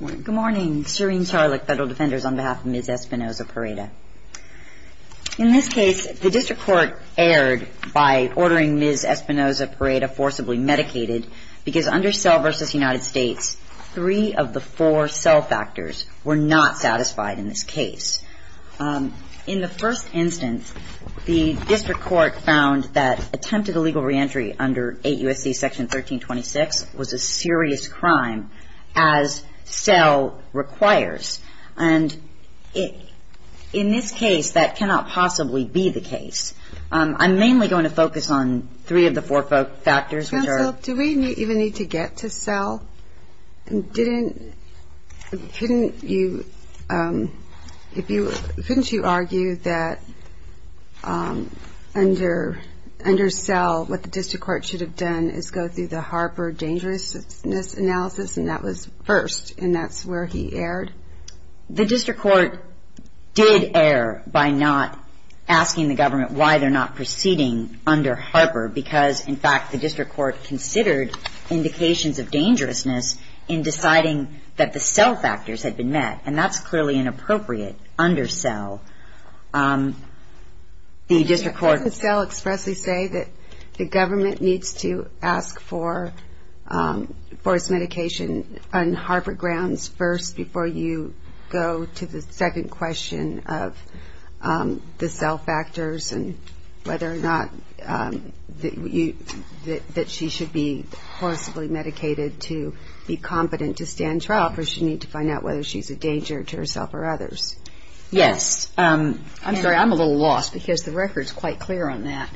Good morning, Serene Charlotte, Federal Defenders, on behalf of Ms. Espinoza-Pareda. In this case, the District Court erred by ordering Ms. Espinoza-Pareda forcibly medicated because under Cell v. United States, three of the four cell factors were not satisfied in this case. In the first instance, the District Court found that attempted illegal reentry under 8 U.S.C. Section 1326 was a serious crime, as Cell requires. And in this case, that cannot possibly be the case. I'm mainly going to focus on three of the four factors, which are Counsel, do we even need to get to Cell? Couldn't you argue that under Cell, what the District Court should have done is go through the Harper dangerousness analysis, and that was first, and that's where he erred? The District Court did err by not asking the government why they're not proceeding under dangerousness in deciding that the cell factors had been met, and that's clearly inappropriate under Cell. The District Court... Doesn't Cell expressly say that the government needs to ask for forced medication on Harper grounds first, before you go to the second question of the cell factors, and whether or not that she should be forcibly medicated to be competent to stand trial, or does she need to find out whether she's a danger to herself or others? Yes. I'm sorry, I'm a little lost, because the record's quite clear on that.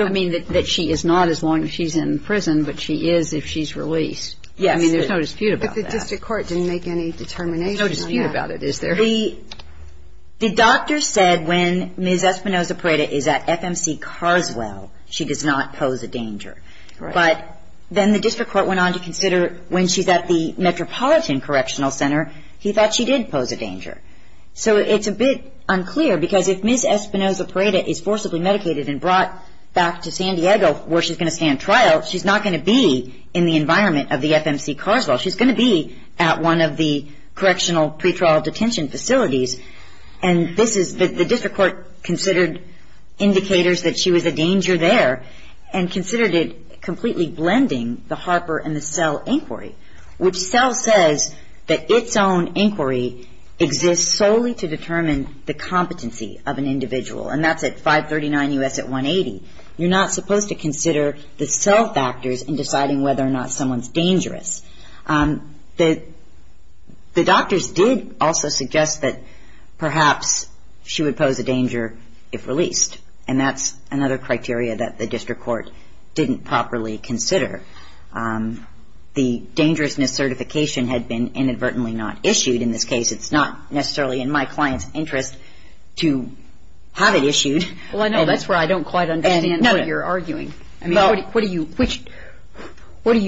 I mean, that she is not as long as she's in prison, but she is if she's released. Yes. I mean, there's no dispute about that. But the District Court didn't make any determination on that. There's no dispute about it, is there? The doctor said when Ms. Espinoza-Preda is at FMC Carswell, she does not pose a danger. But then the District Court went on to consider when she's at the Metropolitan Correctional Center, he thought she did pose a danger. So it's a bit unclear, because if Ms. Espinoza-Preda is forcibly medicated and brought back to San Diego, where she's going to stand trial, she's not going to be in the environment of the FMC Carswell. She's going to be at one of the correctional pretrial detention facilities. And the District Court considered indicators that she was a danger there and considered it completely blending the Harper and the Sell inquiry, which Sell says that its own inquiry exists solely to determine the competency of an individual. And that's at 539 U.S. at 180. You're not supposed to consider the Sell factors in deciding whether or not someone's dangerous. The doctors did also suggest that perhaps she would pose a danger if released. And that's another criteria that the District Court didn't properly consider. The dangerousness certification had been inadvertently not issued in this case. It's not necessarily in my client's interest to have it issued. Well, I know. That's where I don't quite understand what you're arguing. I mean, what do you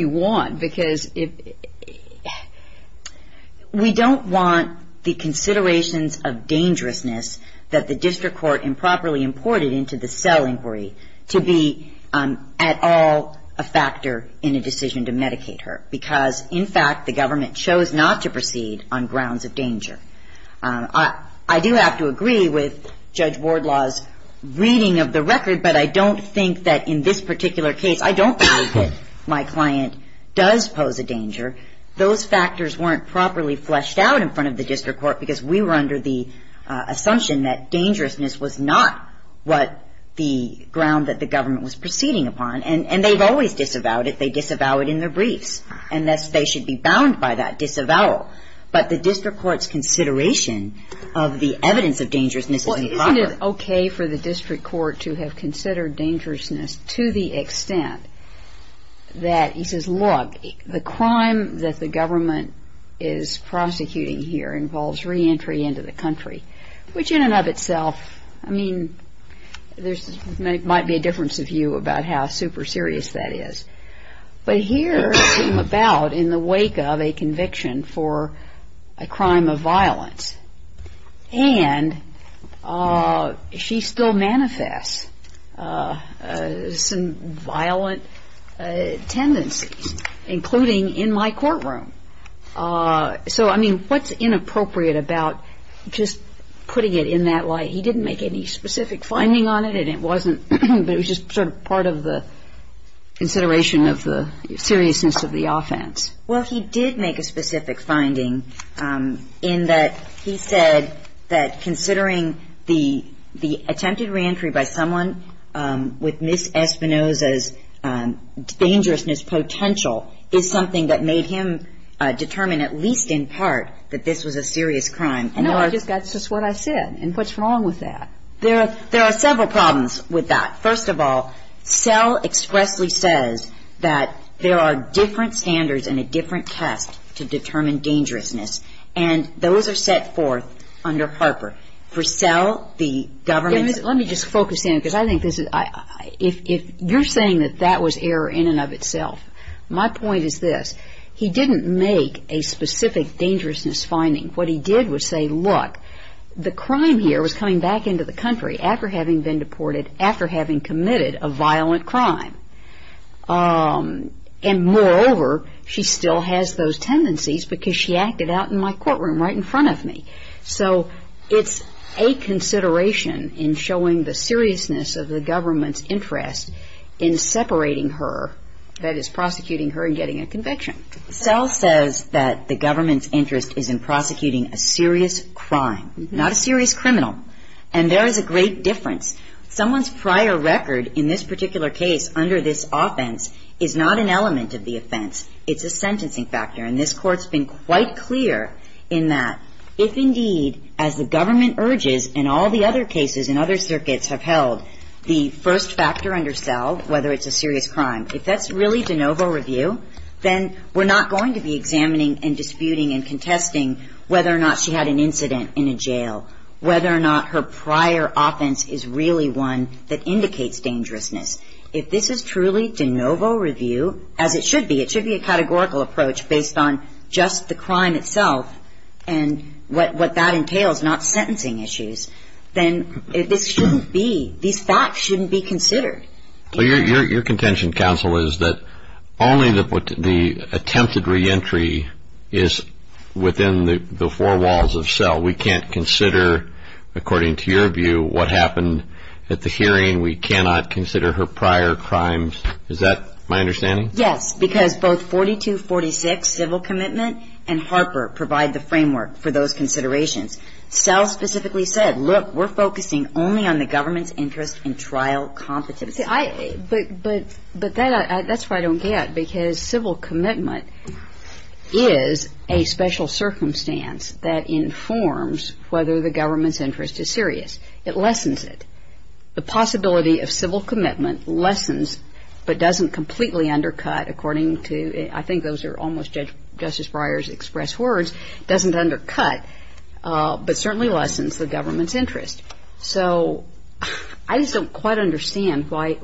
want? Because we don't want the considerations of dangerousness that the District Court improperly imported into the Sell inquiry to be at all a factor in a decision to medicate her. Because in fact, the government chose not to proceed on grounds of danger. I do have to agree with Judge Wardlaw's reading of the record, but I don't think that in this particular case, I don't believe that my client does pose a danger. Those factors weren't properly fleshed out in front of the District Court because we were under the assumption that dangerousness was not what the ground that the government was proceeding upon. And they've always disavowed it. They disavowed it in their briefs. And thus, they should be bound by that disavowal. But the District Court's consideration of the evidence of dangerousness is improper. Isn't it okay for the District Court to have considered dangerousness to the extent that he says, look, the crime that the government is prosecuting here involves reentry into the country, which in and of itself, I mean, there might be a difference of view about how super serious that is. But here, it came about in the wake of a conviction for a crime of violence. And she still manifests some violent tendencies, including in my courtroom. So, I mean, what's inappropriate about just putting it in that light? He didn't make any specific finding on it, and it wasn't, but it was just sort of part of the consideration of the seriousness of the offense. Well, he did make a specific finding in that he said that considering the attempted reentry by someone with Ms. Espinoza's dangerousness potential is something that made him determine, at least in part, that this was a serious crime. And there are – No, that's just what I said. And what's wrong with that? There are several problems with that. First of all, SELL expressly says that there are different standards and a different test to determine dangerousness. And those are set forth under PARPER. For SELL, the government's – Let me just focus in, because I think this is – if you're saying that that was error in and of itself, my point is this. He didn't make a specific dangerousness finding. What he did was say, look, the crime here was coming back into the country after having been deported, after having committed a violent crime. And moreover, she still has those tendencies because she acted out in my courtroom right in front of me. So it's a consideration in showing the seriousness of the government's interest in separating her – that is, prosecuting her and getting a conviction. SELL says that the government's interest is in prosecuting a serious crime, not a serious criminal. And there is a great difference. Someone's prior record in this particular case under this offense is not an element of the offense. It's a sentencing factor. And this Court's been quite clear in that. If indeed, as the government urges and all the other cases in other circuits have held, the first factor under SELL, whether it's a serious crime, if that's really de novo review, then we're not going to be examining and disputing and contesting whether or not she had an incident in a jail, whether or not her prior offense is really one that indicates dangerousness. If this is truly de novo review, as it should be – it should be a categorical approach based on just the crime itself and what that entails, not sentencing issues – then this shouldn't be – these facts shouldn't be considered. Your contention, counsel, is that only the attempted reentry is within the four walls of SELL. We can't consider, according to your view, what happened at the hearing. We cannot consider her prior crimes. Is that my understanding? Yes. Because both 4246, civil commitment, and Harper provide the framework for those considerations. SELL specifically said, look, we're focusing only on the government's interest in trial competencies. But that's where I don't get. Civil commitment is a special circumstance that informs whether the government's interest is serious. It lessens it. The possibility of civil commitment lessens but doesn't completely undercut, according to – I think those are almost Justice Breyer's express words – doesn't undercut but certainly lessens the government's interest. So I just don't quite understand why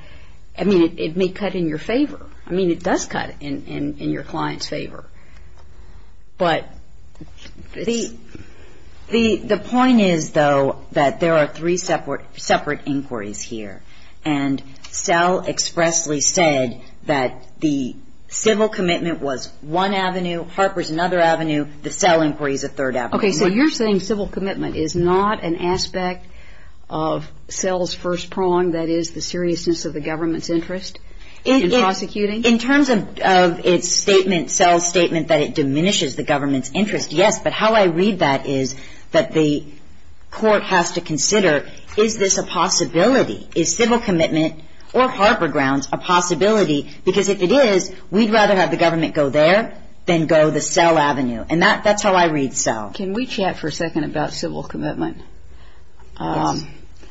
– I mean, it may cut in your favor. I mean, it does cut in your client's favor. But the point is, though, that there are three separate inquiries here. And SELL expressly said that the civil commitment was one avenue, Harper's another avenue, the SELL inquiry is a third avenue. Okay. So you're saying civil commitment is not an aspect of SELL's first prong, that is, the seriousness of the government's interest in prosecuting? In terms of its statement, SELL's statement, that it diminishes the government's interest, yes. But how I read that is that the court has to consider, is this a possibility? Is civil commitment or Harper grounds a possibility? Because if it is, we'd rather have the government go there than go the SELL avenue. And that's how I read SELL. Can we chat for a second about civil commitment? Yes.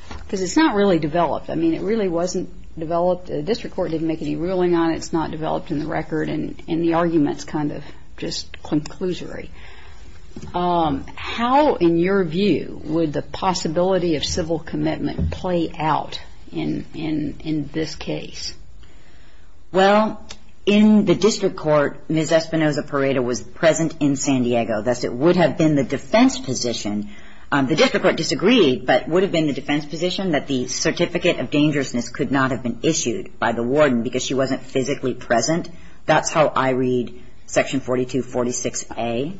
Because it's not really developed. I mean, it really wasn't developed – the district court didn't make any ruling on it, it's not developed in the record, and the argument's kind of just conclusory. How, in your view, would the possibility of civil commitment play out in this case? Well, in the district court, Ms. Espinoza-Pareda was present in San Diego, thus it would have been the defense position – the district court disagreed, but it would have been the defense position that the certificate of dangerousness could not have been issued by the warden because she wasn't physically present. That's how I read section 4246A.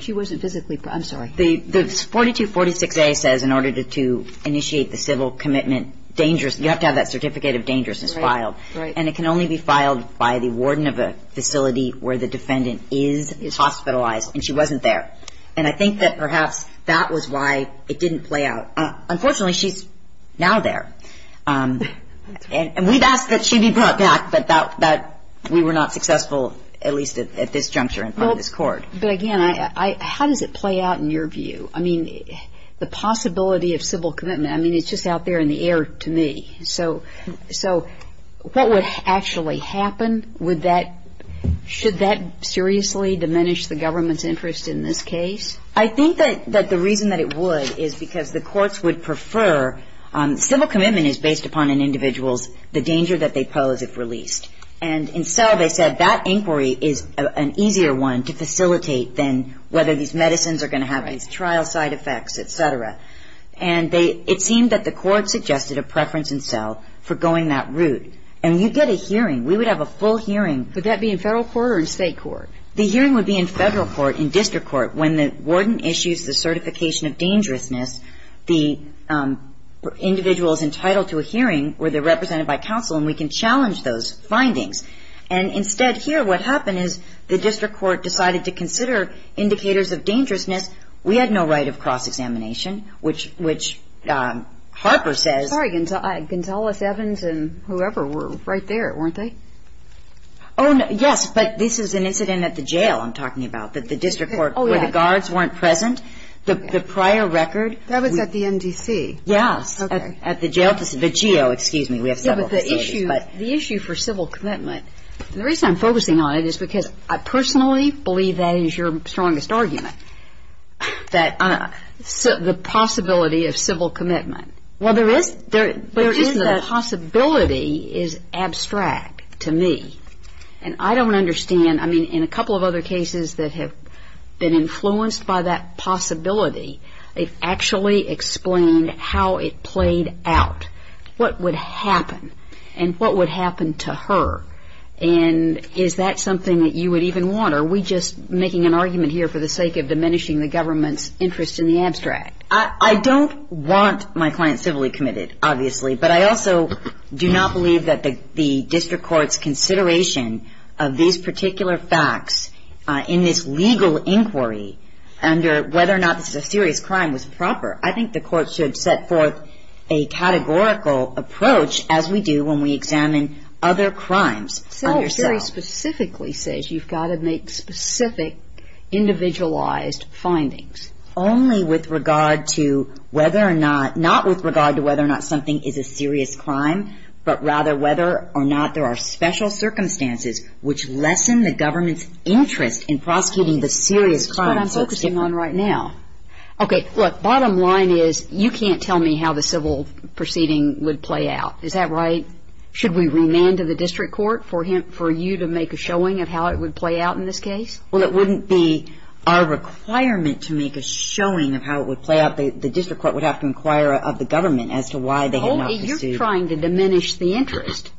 She wasn't physically – I'm sorry. The 4246A says in order to initiate the civil commitment, dangerous – you have to have that certificate of dangerousness filed. Right. And it can only be filed by the warden of a facility where the defendant is hospitalized, and she wasn't there. And I think that perhaps that was why it didn't play out. Unfortunately, she's now there. And we've asked that she be brought back, but that – we were not successful, at least at this juncture in this court. But again, how does it play out in your view? I mean, the possibility of civil commitment – I mean, it's just out there in the air to me. So what would actually happen? Would that – should that seriously diminish the government's interest in this case? I think that the reason that it would is because the courts would prefer – civil commitment is based upon an individual's – the danger that they pose if released. And in Sell, they said that inquiry is an easier one to facilitate than whether these medicines are going to have these trial side effects, et cetera. And they – it seemed that the court suggested a preference in Sell for going that route. And you get a hearing. We would have a full hearing. Would that be in federal court or in state court? The hearing would be in federal court, in district court. When the warden issues the certification of dangerousness, the individual is entitled to a hearing where they're represented by counsel, and we can challenge those findings. And instead here, what happened is the district court decided to consider indicators of dangerousness. We had no right of cross-examination, which Harper says – I'm sorry. Gonzales, Evans, and whoever were right there, weren't they? Oh, yes. But this is an incident at the jail I'm talking about, that the district court – Oh, yeah. – where the guards weren't present. The prior record – That was at the MDC. Yes. At the jail. The GEO, excuse me. We have several facilities, but – Yeah, but the issue – the issue for civil commitment – and the reason I'm focusing on it is because I personally believe that is your strongest argument, that – the possibility of civil commitment. Well, there is – there is a possibility is abstract to me. And I don't understand – I mean, in a couple of other cases that have been influenced by that possibility, it actually explained how it played out. What would happen? And what would happen to her? And is that something that you would even want, or are we just making an argument here I don't want my client civilly committed, obviously. But I also do not believe that the district court's consideration of these particular facts in this legal inquiry under whether or not this is a serious crime was proper. I think the court should set forth a categorical approach, as we do when we examine other crimes under SEAL. SEL very specifically says you've got to make specific, individualized findings. Only with regard to whether or not – not with regard to whether or not something is a serious crime, but rather whether or not there are special circumstances which lessen the government's interest in prosecuting the serious crime. That's what I'm focusing on right now. Okay, look, bottom line is you can't tell me how the civil proceeding would play out. Is that right? Should we remand to the district court for him – for you to make a showing of how it would play out in this case? Well, it wouldn't be our requirement to make a showing of how it would play out. The district court would have to inquire of the government as to why they had not pursued – Olga, you're trying to diminish the interest.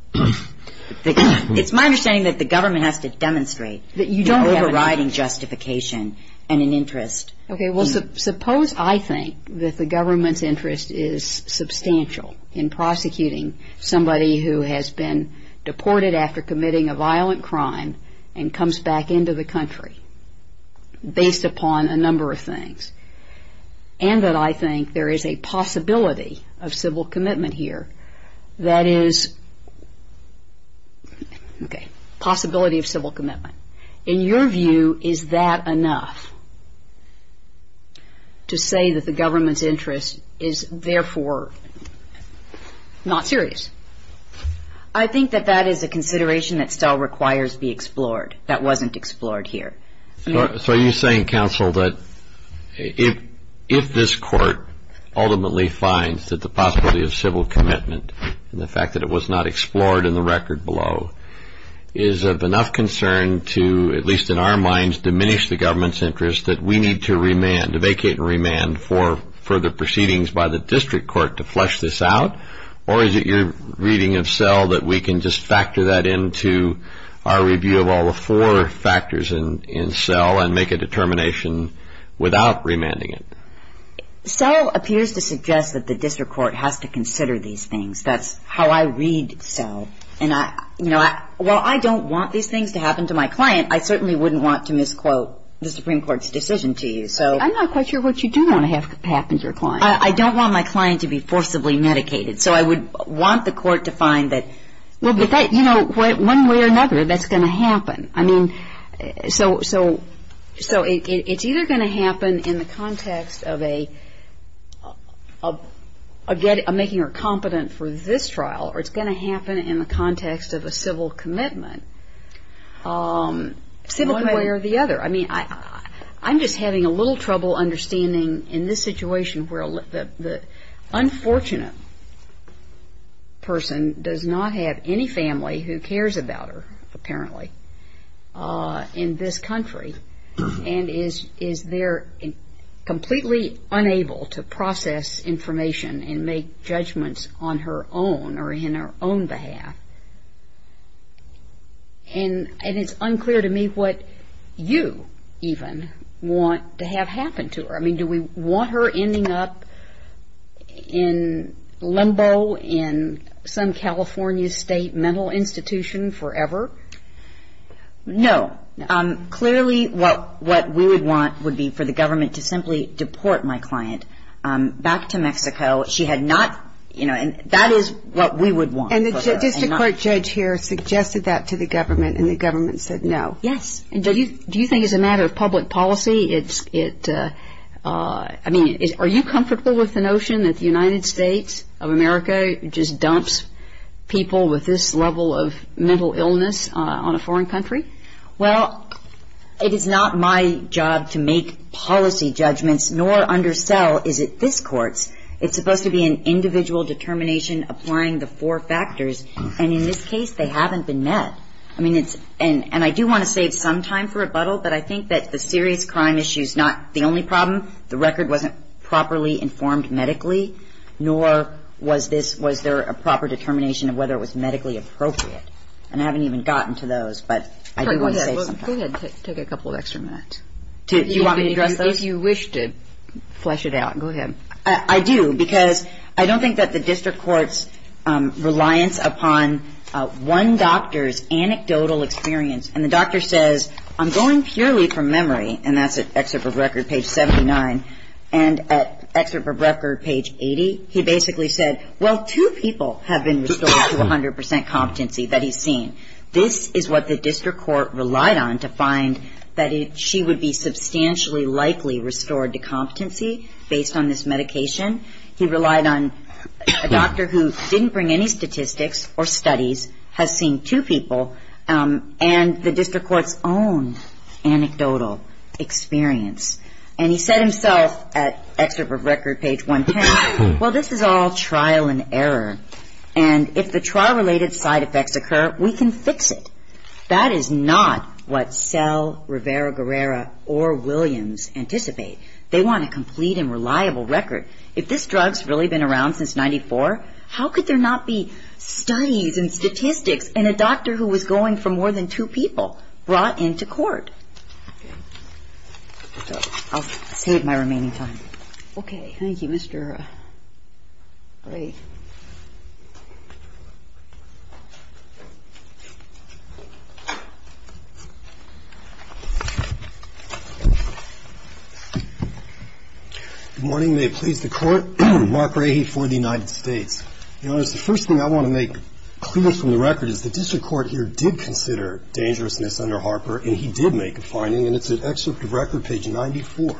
It's my understanding that the government has to demonstrate – That you don't have an –– in overriding justification and an interest. Okay, well, suppose I think that the government's interest is substantial in prosecuting somebody who has been deported after committing a violent crime and comes back into the country based upon a number of things, and that I think there is a possibility of civil commitment here that is – okay, possibility of civil commitment. In your view, is that enough to say that the government's interest is therefore not serious? I think that that is a consideration that still requires to be explored, that wasn't explored here. So are you saying, counsel, that if this court ultimately finds that the possibility of civil commitment and the fact that it was not explored in the record below, is of enough concern to, at least in our minds, diminish the government's interest that we need to remand – to vacate and remand for further proceedings by the district court to flesh this out, or is it your reading of Sell that we can just factor that into our review of all the four factors in Sell and make a determination without remanding it? Sell appears to suggest that the district court has to consider these things. That's how I read Sell, and I – you know, while I don't want these things to happen to my client, I certainly wouldn't want to misquote the Supreme Court's decision to you, so – I'm not quite sure what you do want to happen to your client. I don't want my client to be forcibly medicated. So I would want the court to find that – Well, but that – you know, one way or another, that's going to happen. I mean, so – so it's either going to happen in the context of a – of making her competent for this trial, or it's going to happen in the context of a civil commitment, one way or the other. I mean, I – I'm just having a little trouble understanding in this situation where the unfortunate person does not have any family who cares about her, apparently, in this country, and is – is there – completely unable to process information and make judgments on her own or in her own behalf. And – and it's unclear to me what you, even, want to have happen to her. I mean, do we want her ending up in limbo in some California state mental institution forever? No. Clearly, what – what we would want would be for the government to simply deport my client back to Mexico. She had not – you know, and that is what we would want for her. And the district court judge here suggested that to the government, and the government said no. Yes. And do you – do you think as a matter of public policy, it's – it – I mean, are you comfortable with the notion that the United States of America just dumps people with this level of mental illness on a foreign country? Well, it is not my job to make policy judgments, nor undersell, is it this Court's. It's supposed to be an individual determination applying the four factors, and in this case, they haven't been met. I mean, it's – and – and I do want to save some time for rebuttal, but I think that the serious crime issue is not the only problem. The record wasn't properly informed medically, nor was this – was there a proper determination of whether it was medically appropriate, and I haven't even gotten to those, but I do want to save some time. Go ahead. Go ahead. Take a couple of extra minutes. Do you want me to address those? If you wish to flesh it out, go ahead. I do, because I don't think that the district court's reliance upon one doctor's anecdotal experience – and the doctor says, I'm going purely from memory, and that's at Excerpt of Record, page 79, and at Excerpt of Record, page 80, he basically said, well, two people have been restored to 100 percent competency that he's seen. This is what the district court relied on to find that she would be substantially likely restored to competency based on this medication. He relied on a doctor who didn't bring any statistics or studies, has seen two people, and the district court's own anecdotal experience, and he said himself at Excerpt of Record, page 110, well, this is all trial and error, and if the trial-related side effects occur, we can fix it. That is not what Sell, Rivera-Guerrera, or Williams anticipate. They want a complete and reliable record. If this drug's really been around since 1994, how could there not be studies and statistics and a doctor who was going from more than two people brought into court? I'll save my remaining time. Okay. Thank you, Mr. Ray. Good morning. May it please the Court. Mark Ray for the United States. Your Honor, the first thing I want to make clear from the record is the district court here did consider dangerousness under Harper, and he did make a finding, and it's at Excerpt of Record, page 94.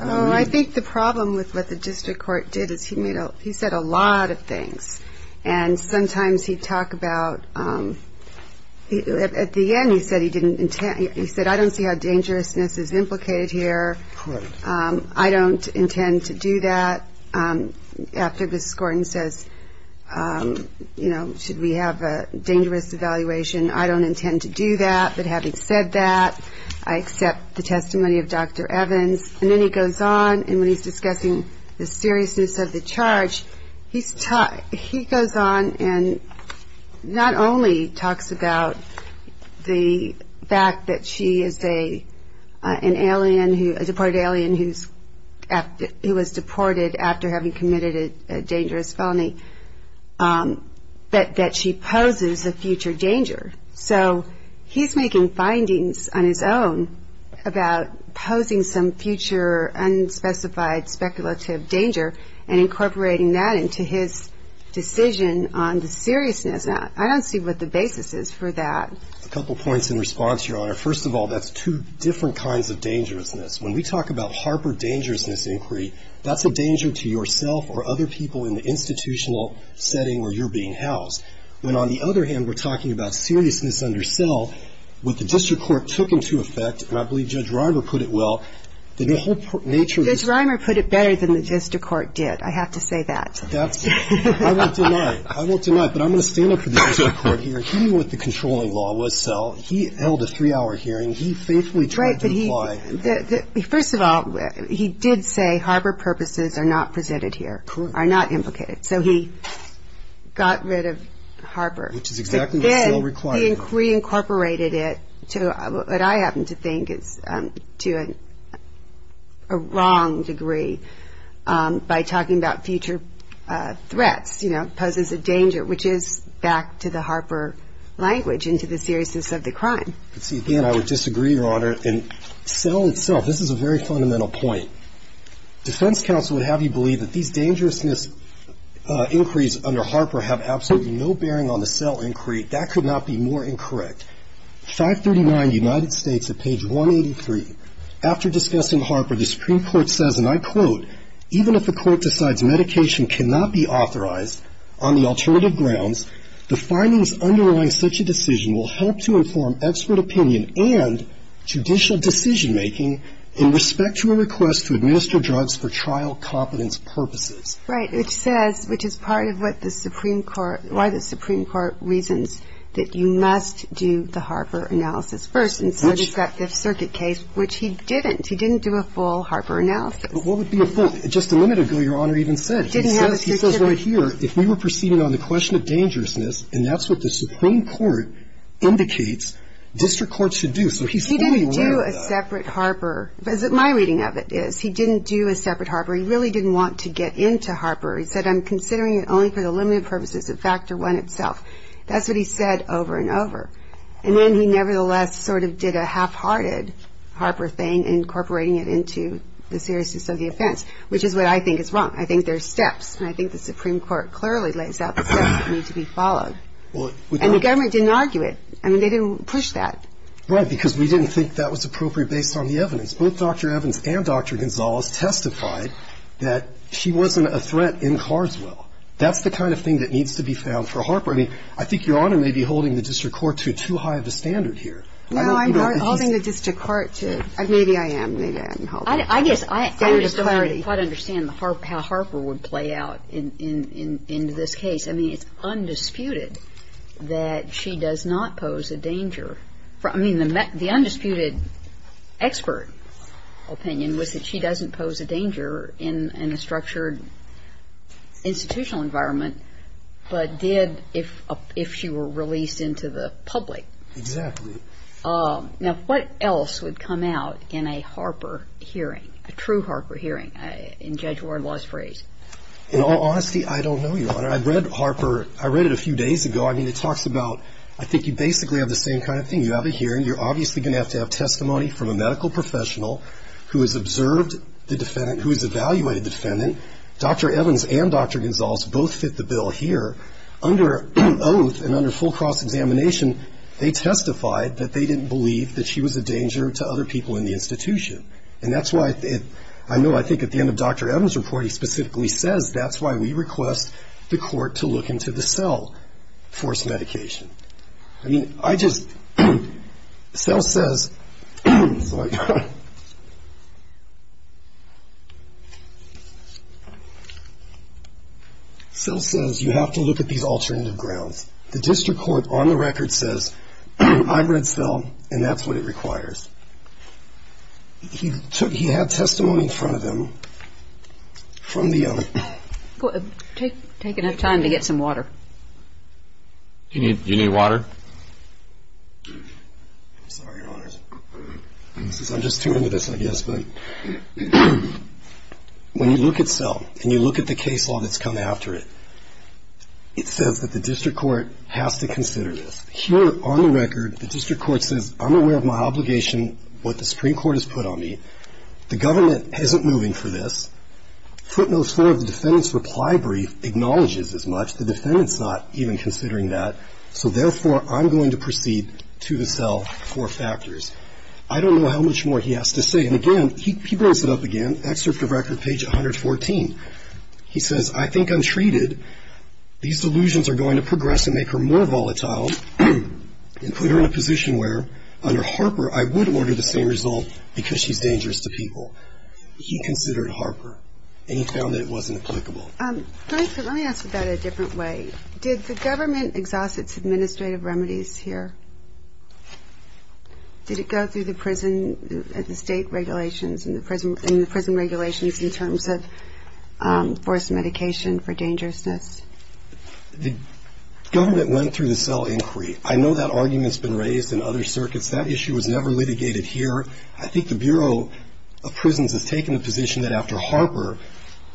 Oh, I think the problem with what the district court did is he made a he said a lot of things, and sometimes he'd talk about at the end he said he didn't he said, I don't see how dangerousness is implicated here. I don't intend to do that. After Ms. Gordon says, you know, should we have a dangerous evaluation, I don't intend to do that, but having said that, I accept the testimony of Dr. Evans. And then he goes on, and when he's discussing the seriousness of the charge, he goes on and not only talks about the fact that she is an alien, a deported alien who was deported after having committed a dangerous felony, but that she poses a future danger. So he's making findings on his own about posing some future unspecified speculative danger and incorporating that into his decision on the seriousness of that. I don't see what the basis is for that. A couple points in response, Your Honor. First of all, that's two different kinds of dangerousness. When we talk about Harper dangerousness inquiry, that's a danger to yourself or other people in the institutional setting where you're being housed. When, on the other hand, we're talking about seriousness under Sell, what the district court took into effect, and I believe Judge Reimer put it well, that the whole nature of this ---- Judge Reimer put it better than the district court did. I have to say that. I won't deny it. I won't deny it. But I'm going to stand up for the district court here. He knew what the controlling law was, Sell. He held a three-hour hearing. He faithfully tried to apply. First of all, he did say Harper purposes are not presented here, are not implicated. So he got rid of Harper. Which is exactly what Sell required. But then he incorporated it to what I happen to think is to a wrong degree by talking about future threats, you know, poses a danger, which is back to the Harper language and to the seriousness of the crime. See, again, I would disagree, Your Honor. And Sell itself, this is a very fundamental point. Defense counsel would have you believe that these dangerousness inquiries under Harper have absolutely no bearing on the Sell inquiry. That could not be more incorrect. 539 United States at page 183. After discussing Harper, the Supreme Court says, and I quote, even if the court decides medication cannot be authorized on the alternative grounds, the findings underlying such a decision will help to inform expert opinion and judicial decision-making in respect to a request to administer drugs for trial competence purposes. Right. Which says, which is part of what the Supreme Court, why the Supreme Court reasons that you must do the Harper analysis first. And so does that Fifth Circuit case, which he didn't. He didn't do a full Harper analysis. But what would be a full? Just a minute ago, Your Honor, he even said, he says right here, if we were proceeding on the question of dangerousness, and that's what the Supreme Court indicates district courts should do. He didn't do a separate Harper. My reading of it is he didn't do a separate Harper. He really didn't want to get into Harper. He said, I'm considering it only for the limited purposes of factor one itself. That's what he said over and over. And then he nevertheless sort of did a half-hearted Harper thing, incorporating it into the seriousness of the offense, which is what I think is wrong. I think there are steps, and I think the Supreme Court clearly lays out the steps that need to be followed. And the government didn't argue it. I mean, they didn't push that. Right. Because we didn't think that was appropriate based on the evidence. Both Dr. Evans and Dr. Gonzalez testified that she wasn't a threat in Carswell. That's the kind of thing that needs to be found for Harper. I mean, I think Your Honor may be holding the district court too high of a standard here. No, I'm not holding the district court too. Maybe I am. Maybe I am. I guess I don't quite understand how Harper would play out in this case. I mean, it's undisputed that she does not pose a danger. I mean, the undisputed expert opinion was that she doesn't pose a danger in a structured institutional environment, but did if she were released into the public. Exactly. Now, what else would come out in a Harper hearing, a true Harper hearing, in Judge Warren Law's phrase? Your Honor, I read Harper, I read it a few days ago. I mean, it talks about, I think you basically have the same kind of thing. You have a hearing. You're obviously going to have to have testimony from a medical professional who has observed the defendant, who has evaluated the defendant. Dr. Evans and Dr. Gonzalez both fit the bill here. Under oath and under full cross-examination, they testified that they didn't believe that she was a danger to other people in the institution. And that's why, I know, I think at the end of Dr. Evans' report, he specifically says that's why we request the court to look into the Sell forced medication. I mean, I just, Sell says, sorry. Sell says you have to look at these alternative grounds. The district court on the record says I read Sell, and that's what it requires. He took, he had testimony in front of him from the. Take enough time to get some water. Do you need water? I'm sorry, Your Honors. I'm just too into this, I guess. But when you look at Sell, and you look at the case law that's come after it, it says that the district court has to consider this. Here on the record, the district court says I'm aware of my obligation, what the Supreme Court has put on me. The government isn't moving for this. Footnote four of the defendant's reply brief acknowledges as much. The defendant's not even considering that. So therefore, I'm going to proceed to the Sell for factors. I don't know how much more he has to say. And again, he brings it up again, excerpt of record, page 114. He says, I think I'm treated. These delusions are going to progress and make her more volatile and put her in a position where, under Harper, I would order the same result because she's dangerous to people. He considered Harper, and he found that it wasn't applicable. Let me ask you that a different way. Did the government exhaust its administrative remedies here? Did it go through the prison and the state regulations and the prison regulations in terms of forced medication for dangerousness? The government went through the Sell inquiry. I know that argument's been raised in other circuits. That issue was never litigated here. I think the Bureau of Prisons has taken a position that after Harper,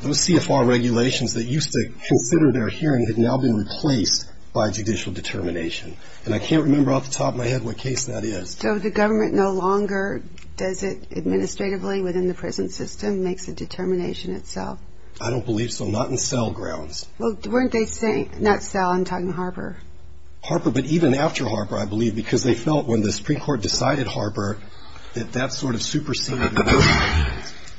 those CFR regulations that used to consider their hearing had now been replaced by judicial determination. And I can't remember off the top of my head what case that is. So the government no longer does it administratively within the prison system, makes the determination itself? I don't believe so. Not in Sell grounds. Well, weren't they saying, not Sell, I'm talking Harper. Harper, but even after Harper, I believe, because they felt when the Supreme Court decided Harper that that sort of superseded.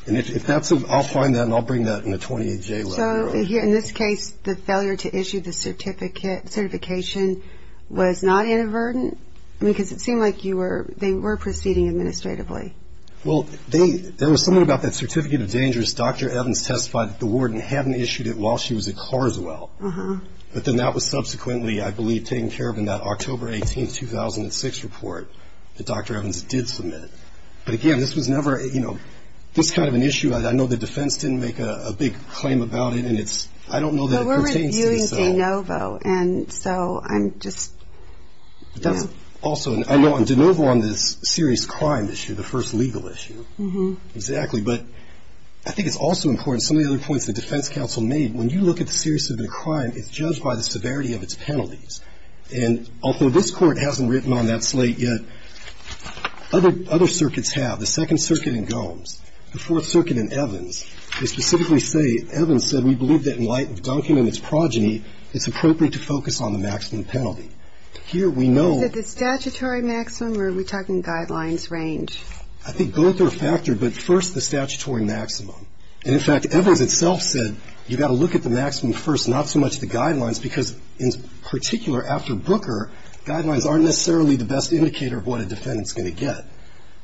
And if that's, I'll find that and I'll bring that in a 28-J letter. So in this case, the failure to issue the certification was not inadvertent? Because it seemed like they were proceeding administratively. Well, there was something about that certificate of dangerous. Dr. Evans testified that the warden hadn't issued it while she was at Carswell. But then that was subsequently, I believe, taken care of in that October 18, 2006 report that Dr. Evans did submit. But, again, this was never, you know, this kind of an issue, I know the defense didn't make a big claim about it, and I don't know that it pertains to the Sell. And so I'm just, you know. That's also, I know on de novo on this serious crime issue, the first legal issue. Exactly. But I think it's also important, some of the other points the defense counsel made, when you look at the seriousness of a crime, it's judged by the severity of its penalties. And although this court hasn't written on that slate yet, other circuits have. The Second Circuit in Gomes, the Fourth Circuit in Evans, they specifically say, Evans said, in light of Duncan and its progeny, it's appropriate to focus on the maximum penalty. Here we know. Is it the statutory maximum, or are we talking guidelines range? I think both are factored, but first the statutory maximum. And, in fact, Evans itself said, you've got to look at the maximum first, not so much the guidelines, because in particular after Booker, guidelines aren't necessarily the best indicator of what a defendant's going to get.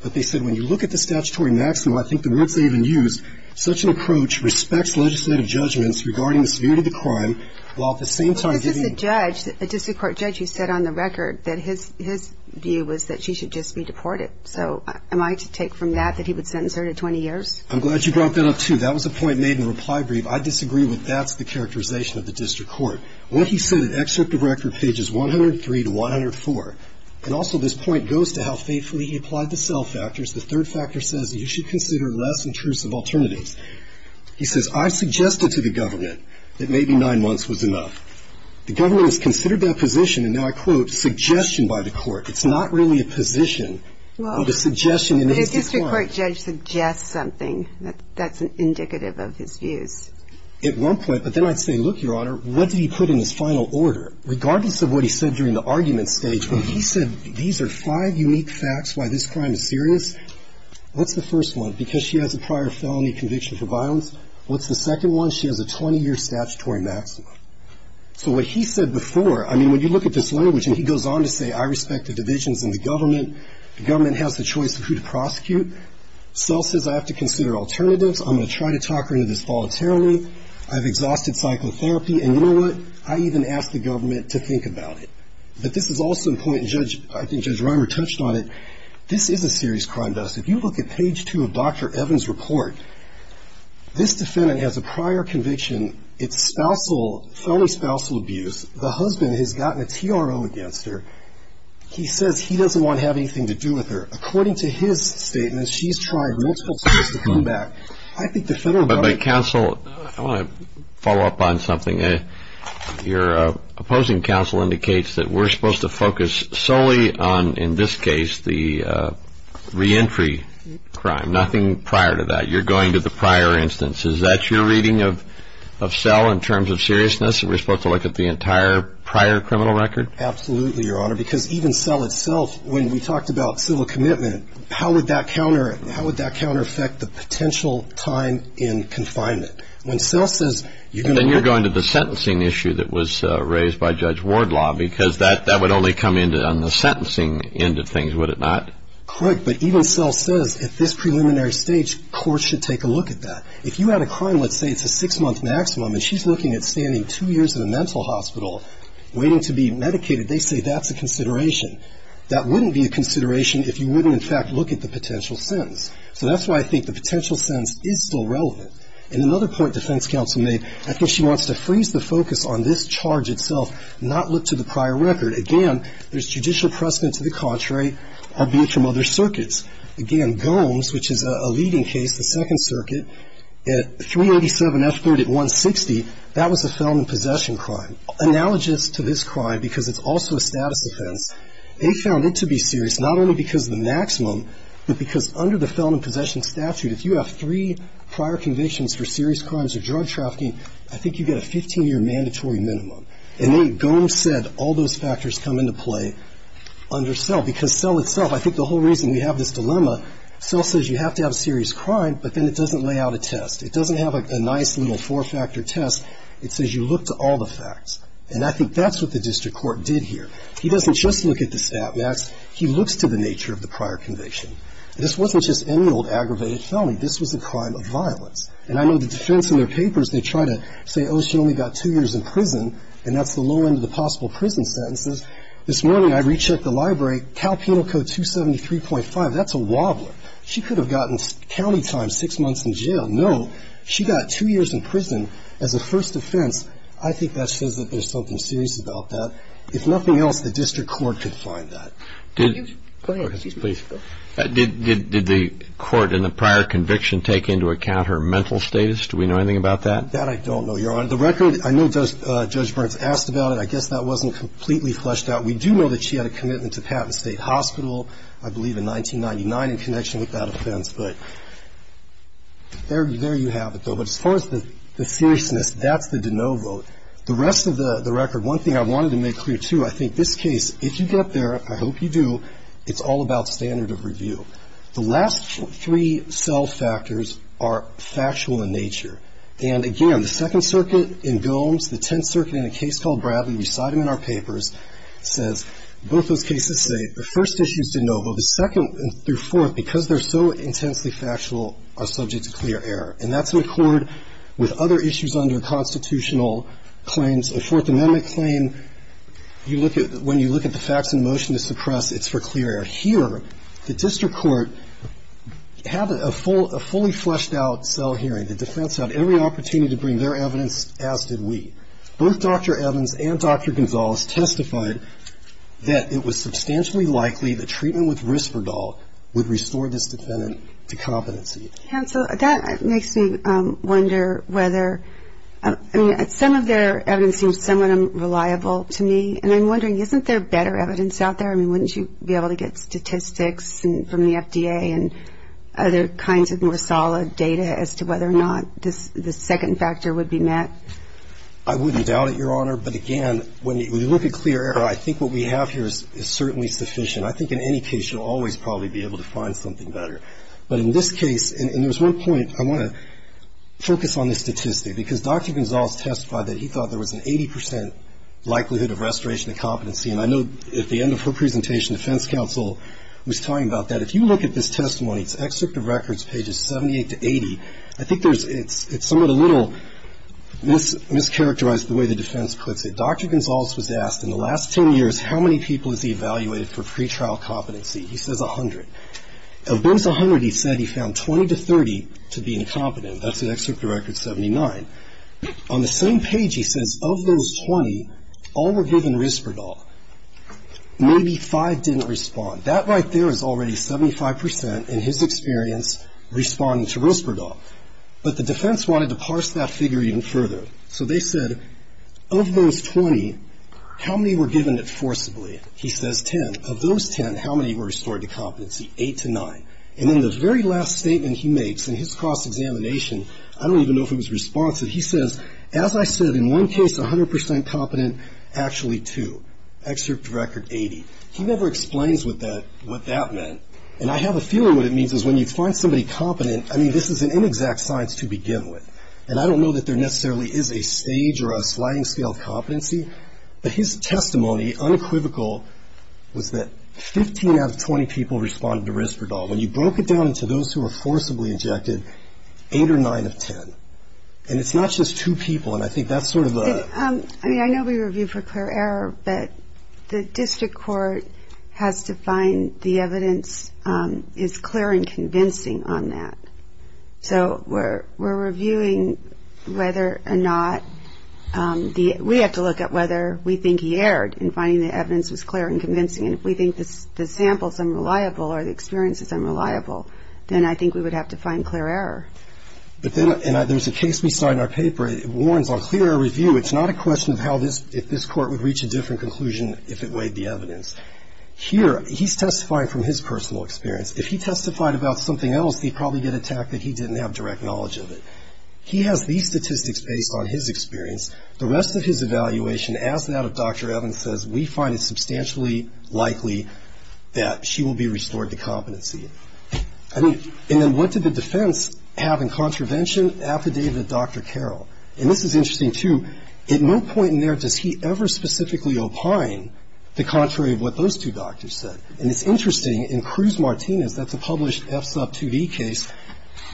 But they said, when you look at the statutory maximum, I think the words they even used, such an approach respects legislative judgments regarding the severity of the crime, while at the same time giving. But this is a judge, a district court judge, who said on the record that his view was that she should just be deported. So am I to take from that that he would sentence her to 20 years? I'm glad you brought that up, too. That was a point made in reply brief. I disagree with that's the characterization of the district court. What he said in excerpt of record pages 103 to 104, and also this point goes to how faithfully he applied the cell factors, the third factor says you should consider less intrusive alternatives. He says, I suggested to the government that maybe nine months was enough. The government has considered that position, and now I quote, suggestion by the court. It's not really a position, but a suggestion. But a district court judge suggests something. That's indicative of his views. At one point, but then I'd say, look, Your Honor, what did he put in his final order? Regardless of what he said during the argument stage, he said these are five unique facts why this crime is serious. What's the first one? Because she has a prior felony conviction for violence. What's the second one? She has a 20-year statutory maximum. So what he said before, I mean, when you look at this language, and he goes on to say I respect the divisions in the government. The government has the choice of who to prosecute. Cell says I have to consider alternatives. I'm going to try to talk her into this voluntarily. I've exhausted psychotherapy. And you know what? I even asked the government to think about it. But this is also a point I think Judge Reimer touched on it. This is a serious crime. If you look at page two of Dr. Evans' report, this defendant has a prior conviction. It's spousal, felony spousal abuse. The husband has gotten a TRO against her. He says he doesn't want to have anything to do with her. According to his statement, she's tried multiple times to come back. I think the federal government ---- But counsel, I want to follow up on something. Your opposing counsel indicates that we're supposed to focus solely on, in this case, the reentry crime. Nothing prior to that. You're going to the prior instance. Is that your reading of Cell in terms of seriousness? Are we supposed to look at the entire prior criminal record? Absolutely, Your Honor, because even Cell itself, when we talked about civil commitment, how would that counter affect the potential time in confinement? Then you're going to the sentencing issue that was raised by Judge Wardlaw, because that would only come in on the sentencing end of things, would it not? Correct. But even Cell says at this preliminary stage, courts should take a look at that. If you had a crime, let's say it's a six-month maximum, and she's looking at standing two years in a mental hospital waiting to be medicated, they say that's a consideration. That wouldn't be a consideration if you wouldn't, in fact, look at the potential sentence. So that's why I think the potential sentence is still relevant. And another point defense counsel made, I think she wants to freeze the focus on this charge itself, not look to the prior record. Again, there's judicial precedent to the contrary, albeit from other circuits. Again, Gomes, which is a leading case, the Second Circuit, 387F3 at 160, that was a felon in possession crime. Analogous to this crime, because it's also a status offense, they found it to be serious not only because of the maximum, but because under the felon in possession statute, if you have three prior convictions for serious crimes or drug trafficking, I think you get a 15-year mandatory minimum. And then Gomes said all those factors come into play under Cell, because Cell itself, I think the whole reason we have this dilemma, Cell says you have to have a serious crime, but then it doesn't lay out a test. It doesn't have a nice little four-factor test. It says you look to all the facts. And I think that's what the district court did here. He doesn't just look at the stat max. He looks to the nature of the prior conviction. This wasn't just any old aggravated felony. This was a crime of violence. And I know the defense in their papers, they try to say, oh, she only got two years in prison, and that's the low end of the possible prison sentences. This morning I rechecked the library. Cal Penal Code 273.5, that's a wobbler. She could have gotten county time, six months in jail. No, she got two years in prison as a first offense. I think that says that there's something serious about that. If nothing else, the district court could find that. Did the court in the prior conviction take into account her mental status? Do we know anything about that? That I don't know, Your Honor. The record, I know Judge Burns asked about it. I guess that wasn't completely fleshed out. We do know that she had a commitment to Patton State Hospital, I believe in 1999, in connection with that offense. But there you have it, though. But as far as the seriousness, that's the de novo. The rest of the record, one thing I wanted to make clear, too, I think this case, if you get there, I hope you do, it's all about standard of review. The last three cell factors are factual in nature. And again, the Second Circuit in Gilms, the Tenth Circuit in a case called Bradley, we cite them in our papers, says both those cases say the first issue is de novo. The second through fourth, because they're so intensely factual, are subject to clear error. And that's in accord with other issues under constitutional claims. A Fourth Amendment claim, when you look at the facts in motion to suppress, it's for clear error. Here, the district court had a fully fleshed out cell hearing. The defense had every opportunity to bring their evidence, as did we. Both Dr. Evans and Dr. Gonzalez testified that it was substantially likely that treatment with Risperdal would restore this defendant to competency. And so that makes me wonder whether, I mean, some of their evidence seems somewhat unreliable to me. And I'm wondering, isn't there better evidence out there? I mean, wouldn't you be able to get statistics from the FDA and other kinds of more solid data as to whether or not this second factor would be met? I wouldn't doubt it, Your Honor. But again, when you look at clear error, I think what we have here is certainly sufficient. I think in any case you'll always probably be able to find something better. But in this case, and there's one point I want to focus on this statistic, because Dr. Gonzalez testified that he thought there was an 80 percent likelihood of restoration of competency. And I know at the end of her presentation, defense counsel was talking about that. If you look at this testimony, it's excerpt of records, pages 78 to 80. I think it's somewhat a little mischaracterized the way the defense puts it. Dr. Gonzalez was asked in the last 10 years how many people has he evaluated for pretrial competency. He says 100. Of those 100, he said he found 20 to 30 to be incompetent. That's an excerpt of record 79. On the same page, he says of those 20, all were given Risperdal. Maybe five didn't respond. That right there is already 75 percent, in his experience, responding to Risperdal. But the defense wanted to parse that figure even further. So they said of those 20, how many were given it forcibly? He says 10. Of those 10, how many were restored to competency? Eight to nine. And then the very last statement he makes in his cross-examination, I don't even know if it was responsive, he says, as I said, in one case 100 percent competent, actually two. Excerpt of record 80. He never explains what that meant. And I have a feeling what it means is when you find somebody competent, I mean, this is an inexact science to begin with. But his testimony, unequivocal, was that 15 out of 20 people responded to Risperdal. When you broke it down into those who were forcibly ejected, eight or nine of 10. And it's not just two people, and I think that's sort of the ‑‑ I mean, I know we review for clear error, but the district court has to find the evidence is clear and convincing on that. So we're reviewing whether or not the ‑‑ we have to look at whether we think he erred in finding the evidence was clear and convincing. And if we think the sample is unreliable or the experience is unreliable, then I think we would have to find clear error. But then, and there's a case we saw in our paper, it warns on clear error review, it's not a question of how this ‑‑ if this court would reach a different conclusion if it weighed the evidence. Here, he's testifying from his personal experience. If he testified about something else, he'd probably get attacked that he didn't have direct knowledge of it. He has these statistics based on his experience. The rest of his evaluation, as that of Dr. Evans says, we find it substantially likely that she will be restored to competency. And then what did the defense have in contravention affidavit of Dr. Carroll? And this is interesting, too. At no point in there does he ever specifically opine the contrary of what those two doctors said. And it's interesting. In Cruz‑Martinez, that's a published FSUP 2D case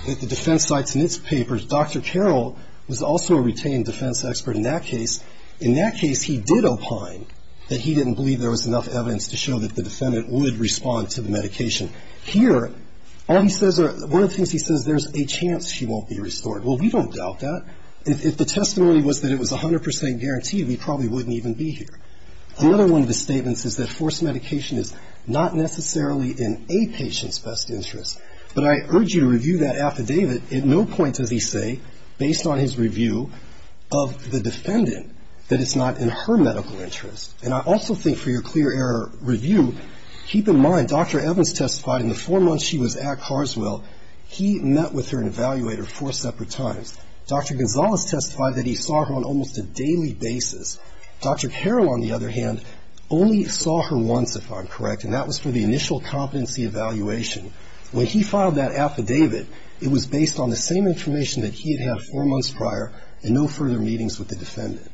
that the defense cites in its papers, Dr. Carroll was also a retained defense expert in that case. In that case, he did opine that he didn't believe there was enough evidence to show that the defendant would respond to the medication. Here, all he says are ‑‑ one of the things he says, there's a chance she won't be restored. Well, we don't doubt that. If the testimony was that it was 100 percent guaranteed, we probably wouldn't even be here. Another one of his statements is that forced medication is not necessarily in a patient's best interest. But I urge you to review that affidavit. At no point does he say, based on his review of the defendant, that it's not in her medical interest. And I also think for your clear error review, keep in mind Dr. Evans testified in the four months she was at Carswell, he met with her and evaluated her four separate times. Dr. Gonzalez testified that he saw her on almost a daily basis. Dr. Carroll, on the other hand, only saw her once, if I'm correct, and that was for the initial competency evaluation. When he filed that affidavit, it was based on the same information that he had had four months prior and no further meetings with the defendant.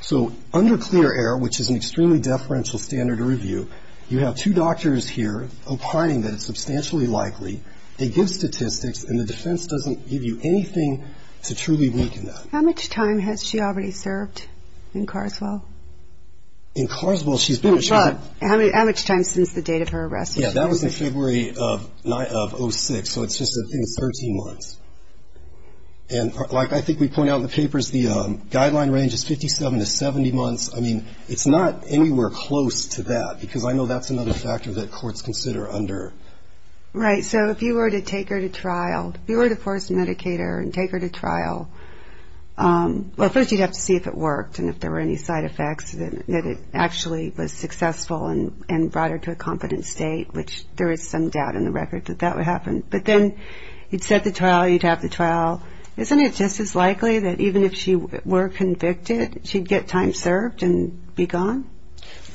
So under clear error, which is an extremely deferential standard of review, you have two doctors here opining that it's substantially likely. They give statistics, and the defense doesn't give you anything to truly weaken that. How much time has she already served in Carswell? In Carswell, she's been- How much time since the date of her arrest? Yeah, that was in February of 06, so it's just, I think, 13 months. And like I think we point out in the papers, the guideline range is 57 to 70 months. I mean, it's not anywhere close to that because I know that's another factor that courts consider under- Right, so if you were to take her to trial, if you were to force medicate her and take her to trial, well, first you'd have to see if it worked and if there were any side effects, that it actually was successful and brought her to a confident state, which there is some doubt in the record that that would happen. But then you'd set the trial, you'd have the trial. Isn't it just as likely that even if she were convicted, she'd get time served and be gone?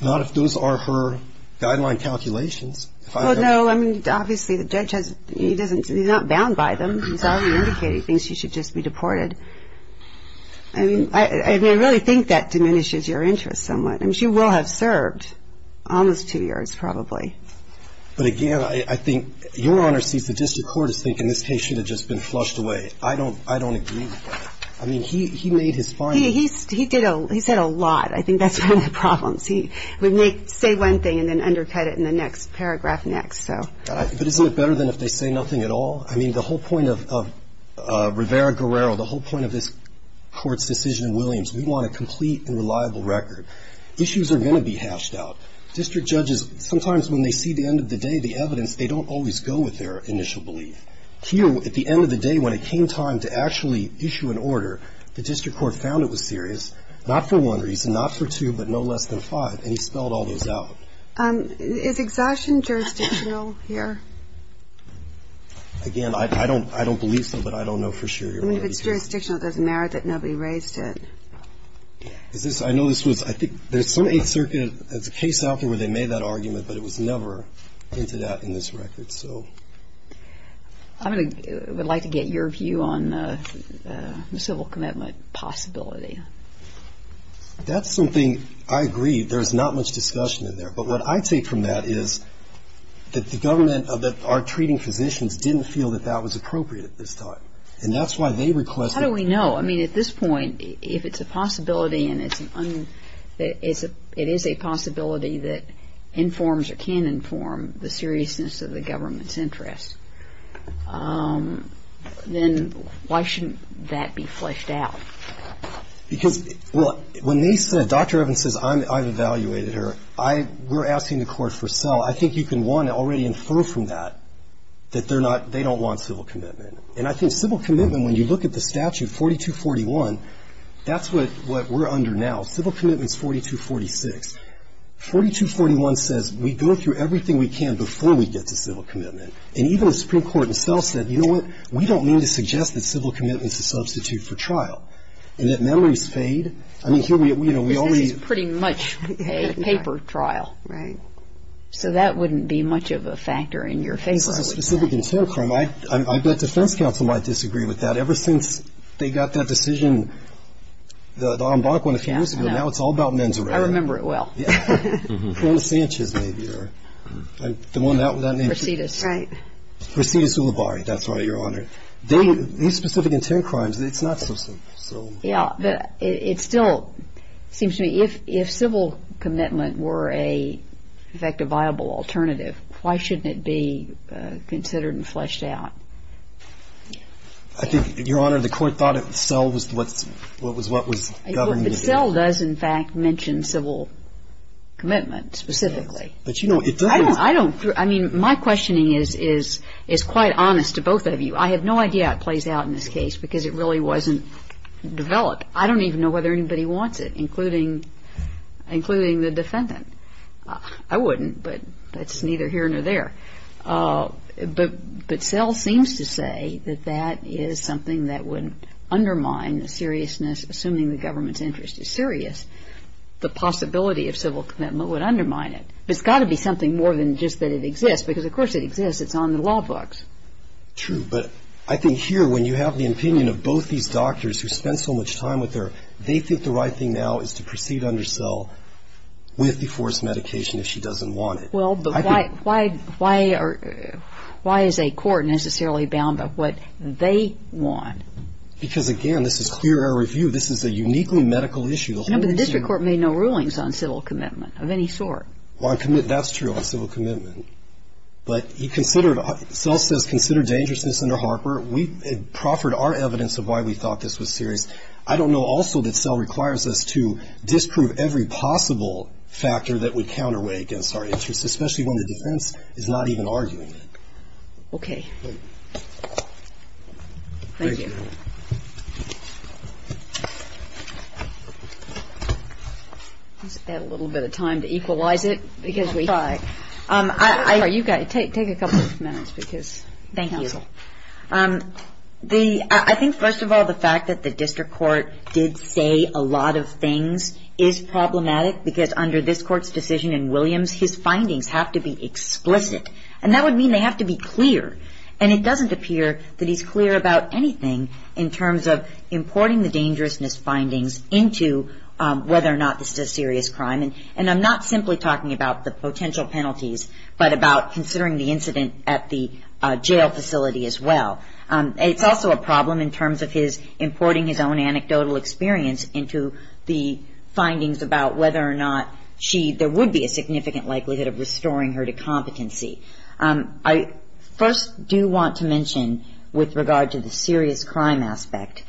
Not if those are her guideline calculations. Well, no, I mean, obviously the judge, he's not bound by them. He's already indicated he thinks she should just be deported. I mean, I really think that diminishes your interest somewhat. I mean, she will have served almost two years probably. But again, I think your Honor sees the district court as thinking this case should have just been flushed away. I don't agree with that. I mean, he made his point. He said a lot. I think that's one of the problems. He would say one thing and then undercut it in the next paragraph next. But isn't it better than if they say nothing at all? I mean, the whole point of Rivera-Guerrero, the whole point of this Court's decision in Williams, we want a complete and reliable record. Issues are going to be hashed out. District judges, sometimes when they see the end of the day, the evidence, they don't always go with their initial belief. Here, at the end of the day, when it came time to actually issue an order, the district court found it was serious, not for one reason, not for two, but no less than five. And he spelled all those out. Is exhaustion jurisdictional here? Again, I don't believe so, but I don't know for sure, Your Honor. I mean, if it's jurisdictional, it doesn't matter that nobody raised it. I know this was, I think, there's some Eighth Circuit, there's a case out there where they made that argument, but it was never entered out in this record. I would like to get your view on the civil commitment possibility. That's something I agree. There's not much discussion in there. But what I take from that is that the government that are treating physicians didn't feel that that was appropriate at this time, and that's why they requested it. How do we know? I mean, at this point, if it's a possibility and it is a possibility that informs or can inform the seriousness of the government's interest, then why shouldn't that be fleshed out? Because, well, when they said, Dr. Evans says, I've evaluated her, we're asking the court for sell. I think you can, one, already infer from that that they don't want civil commitment. And I think civil commitment, when you look at the statute, 4241, that's what we're under now. Civil commitment is 4246. 4241 says we go through everything we can before we get to civil commitment. And even the Supreme Court itself said, you know what, we don't mean to suggest that civil commitment is a substitute for trial. And that memories fade. I mean, here we are, you know, we already ---- Because this is pretty much a paper trial. Right. So that wouldn't be much of a factor in your favor. This is a specific intent crime. I bet defense counsel might disagree with that. Ever since they got that decision, the en banc one a few years ago, now it's all about men's rights. I remember it well. Yeah. Cronus Sanchez, maybe, or the one without a name. Residus. Right. Residus Ulibarri. That's right, Your Honor. These specific intent crimes, it's not so simple. Yeah. But it still seems to me, if civil commitment were, in fact, a viable alternative, why shouldn't it be considered and fleshed out? I think, Your Honor, the court thought sell was what was governing the case. But sell does, in fact, mention civil commitment specifically. But, you know, it doesn't ---- I don't ---- I mean, my questioning is quite honest to both of you. I have no idea how it plays out in this case because it really wasn't developed. I don't even know whether anybody wants it, including the defendant. I wouldn't, but that's neither here nor there. But sell seems to say that that is something that would undermine the seriousness, assuming the government's interest is serious, the possibility of civil commitment would undermine it. It's got to be something more than just that it exists because, of course, it exists. It's on the law books. True. But I think here, when you have the opinion of both these doctors who spent so much time with her, they think the right thing now is to proceed under sell with the forced medication if she doesn't want it. Well, but why is a court necessarily bound by what they want? Because, again, this is clear air review. This is a uniquely medical issue. No, but the district court made no rulings on civil commitment of any sort. Well, that's true, on civil commitment. But sell says consider dangerousness under Harper. We proffered our evidence of why we thought this was serious. I don't know also that sell requires us to disprove every possible factor that would counterweight against our interest, especially when the defense is not even arguing it. Okay. Thank you. Let's add a little bit of time to equalize it because we have time. You've got to take a couple of minutes because counsel. Thank you. I think, first of all, the fact that the district court did say a lot of things is problematic because under this court's decision in Williams, his findings have to be explicit. And that would mean they have to be clear. And it doesn't appear that he's clear about anything in terms of importing the dangerousness findings into whether or not this is a serious crime. And I'm not simply talking about the potential penalties, but about considering the incident at the jail facility as well. It's also a problem in terms of his importing his own anecdotal experience into the findings about whether or not there would be a significant likelihood of restoring her to competency. I first do want to mention, with regard to the serious crime aspect,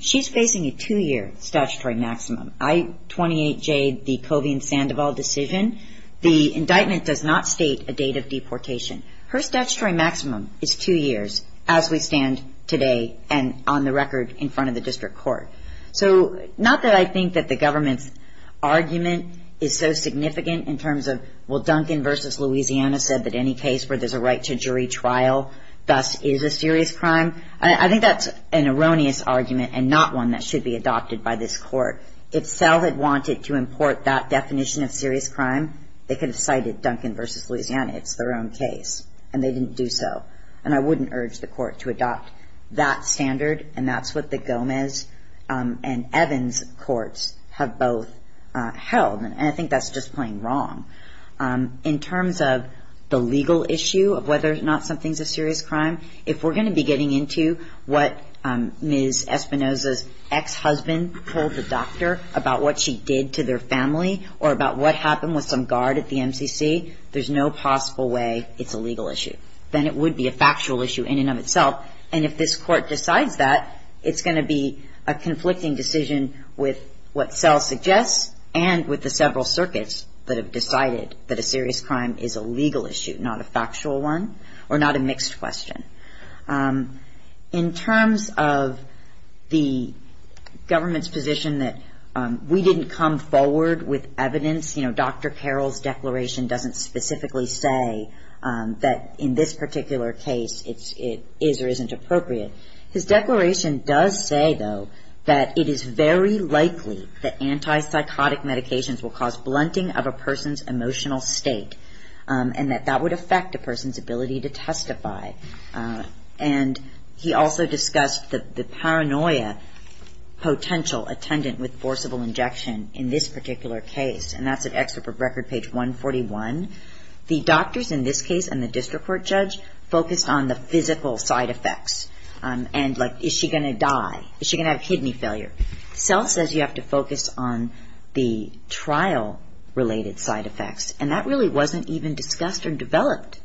she's facing a two-year statutory maximum. I-28J, the Covey and Sandoval decision, the indictment does not state a date of deportation. Her statutory maximum is two years, as we stand today and on the record in front of the district court. So not that I think that the government's argument is so significant in terms of, well, Duncan versus Louisiana said that any case where there's a right to jury trial thus is a serious crime. I think that's an erroneous argument and not one that should be adopted by this court. If SEL had wanted to import that definition of serious crime, they could have cited Duncan versus Louisiana. It's their own case, and they didn't do so. And I wouldn't urge the court to adopt that standard, and that's what the Gomez and Evans courts have both held. And I think that's just plain wrong. In terms of the legal issue of whether or not something's a serious crime, if we're going to be getting into what Ms. Espinoza's ex-husband told the doctor about what she did to their family or about what happened with some guard at the MCC, there's no possible way it's a legal issue. Then it would be a factual issue in and of itself. And if this court decides that, it's going to be a conflicting decision with what SEL suggests and with the several circuits that have decided that a serious crime is a legal issue, not a factual one or not a mixed question. In terms of the government's position that we didn't come forward with evidence, you know, Dr. Carroll's declaration doesn't specifically say that in this particular case it is or isn't appropriate. His declaration does say, though, that it is very likely that antipsychotic medications will cause blunting of a person's emotional state and that that would affect a person's ability to testify. And he also discussed the paranoia potential attendant with forcible injection in this particular case, and that's at Excerpt of Record, page 141. The doctors in this case and the district court judge focused on the physical side effects and, like, is she going to die? Is she going to have kidney failure? SEL says you have to focus on the trial-related side effects. And that really wasn't even discussed or developed.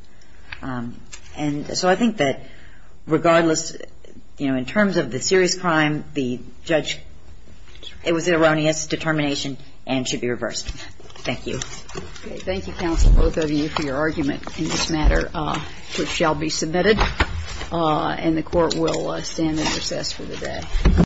And so I think that regardless, you know, in terms of the serious crime, the judge, it was an erroneous determination and should be reversed. Thank you. Thank you, counsel, both of you, for your argument in this matter, which shall be submitted. And the court will stand in recess for the day.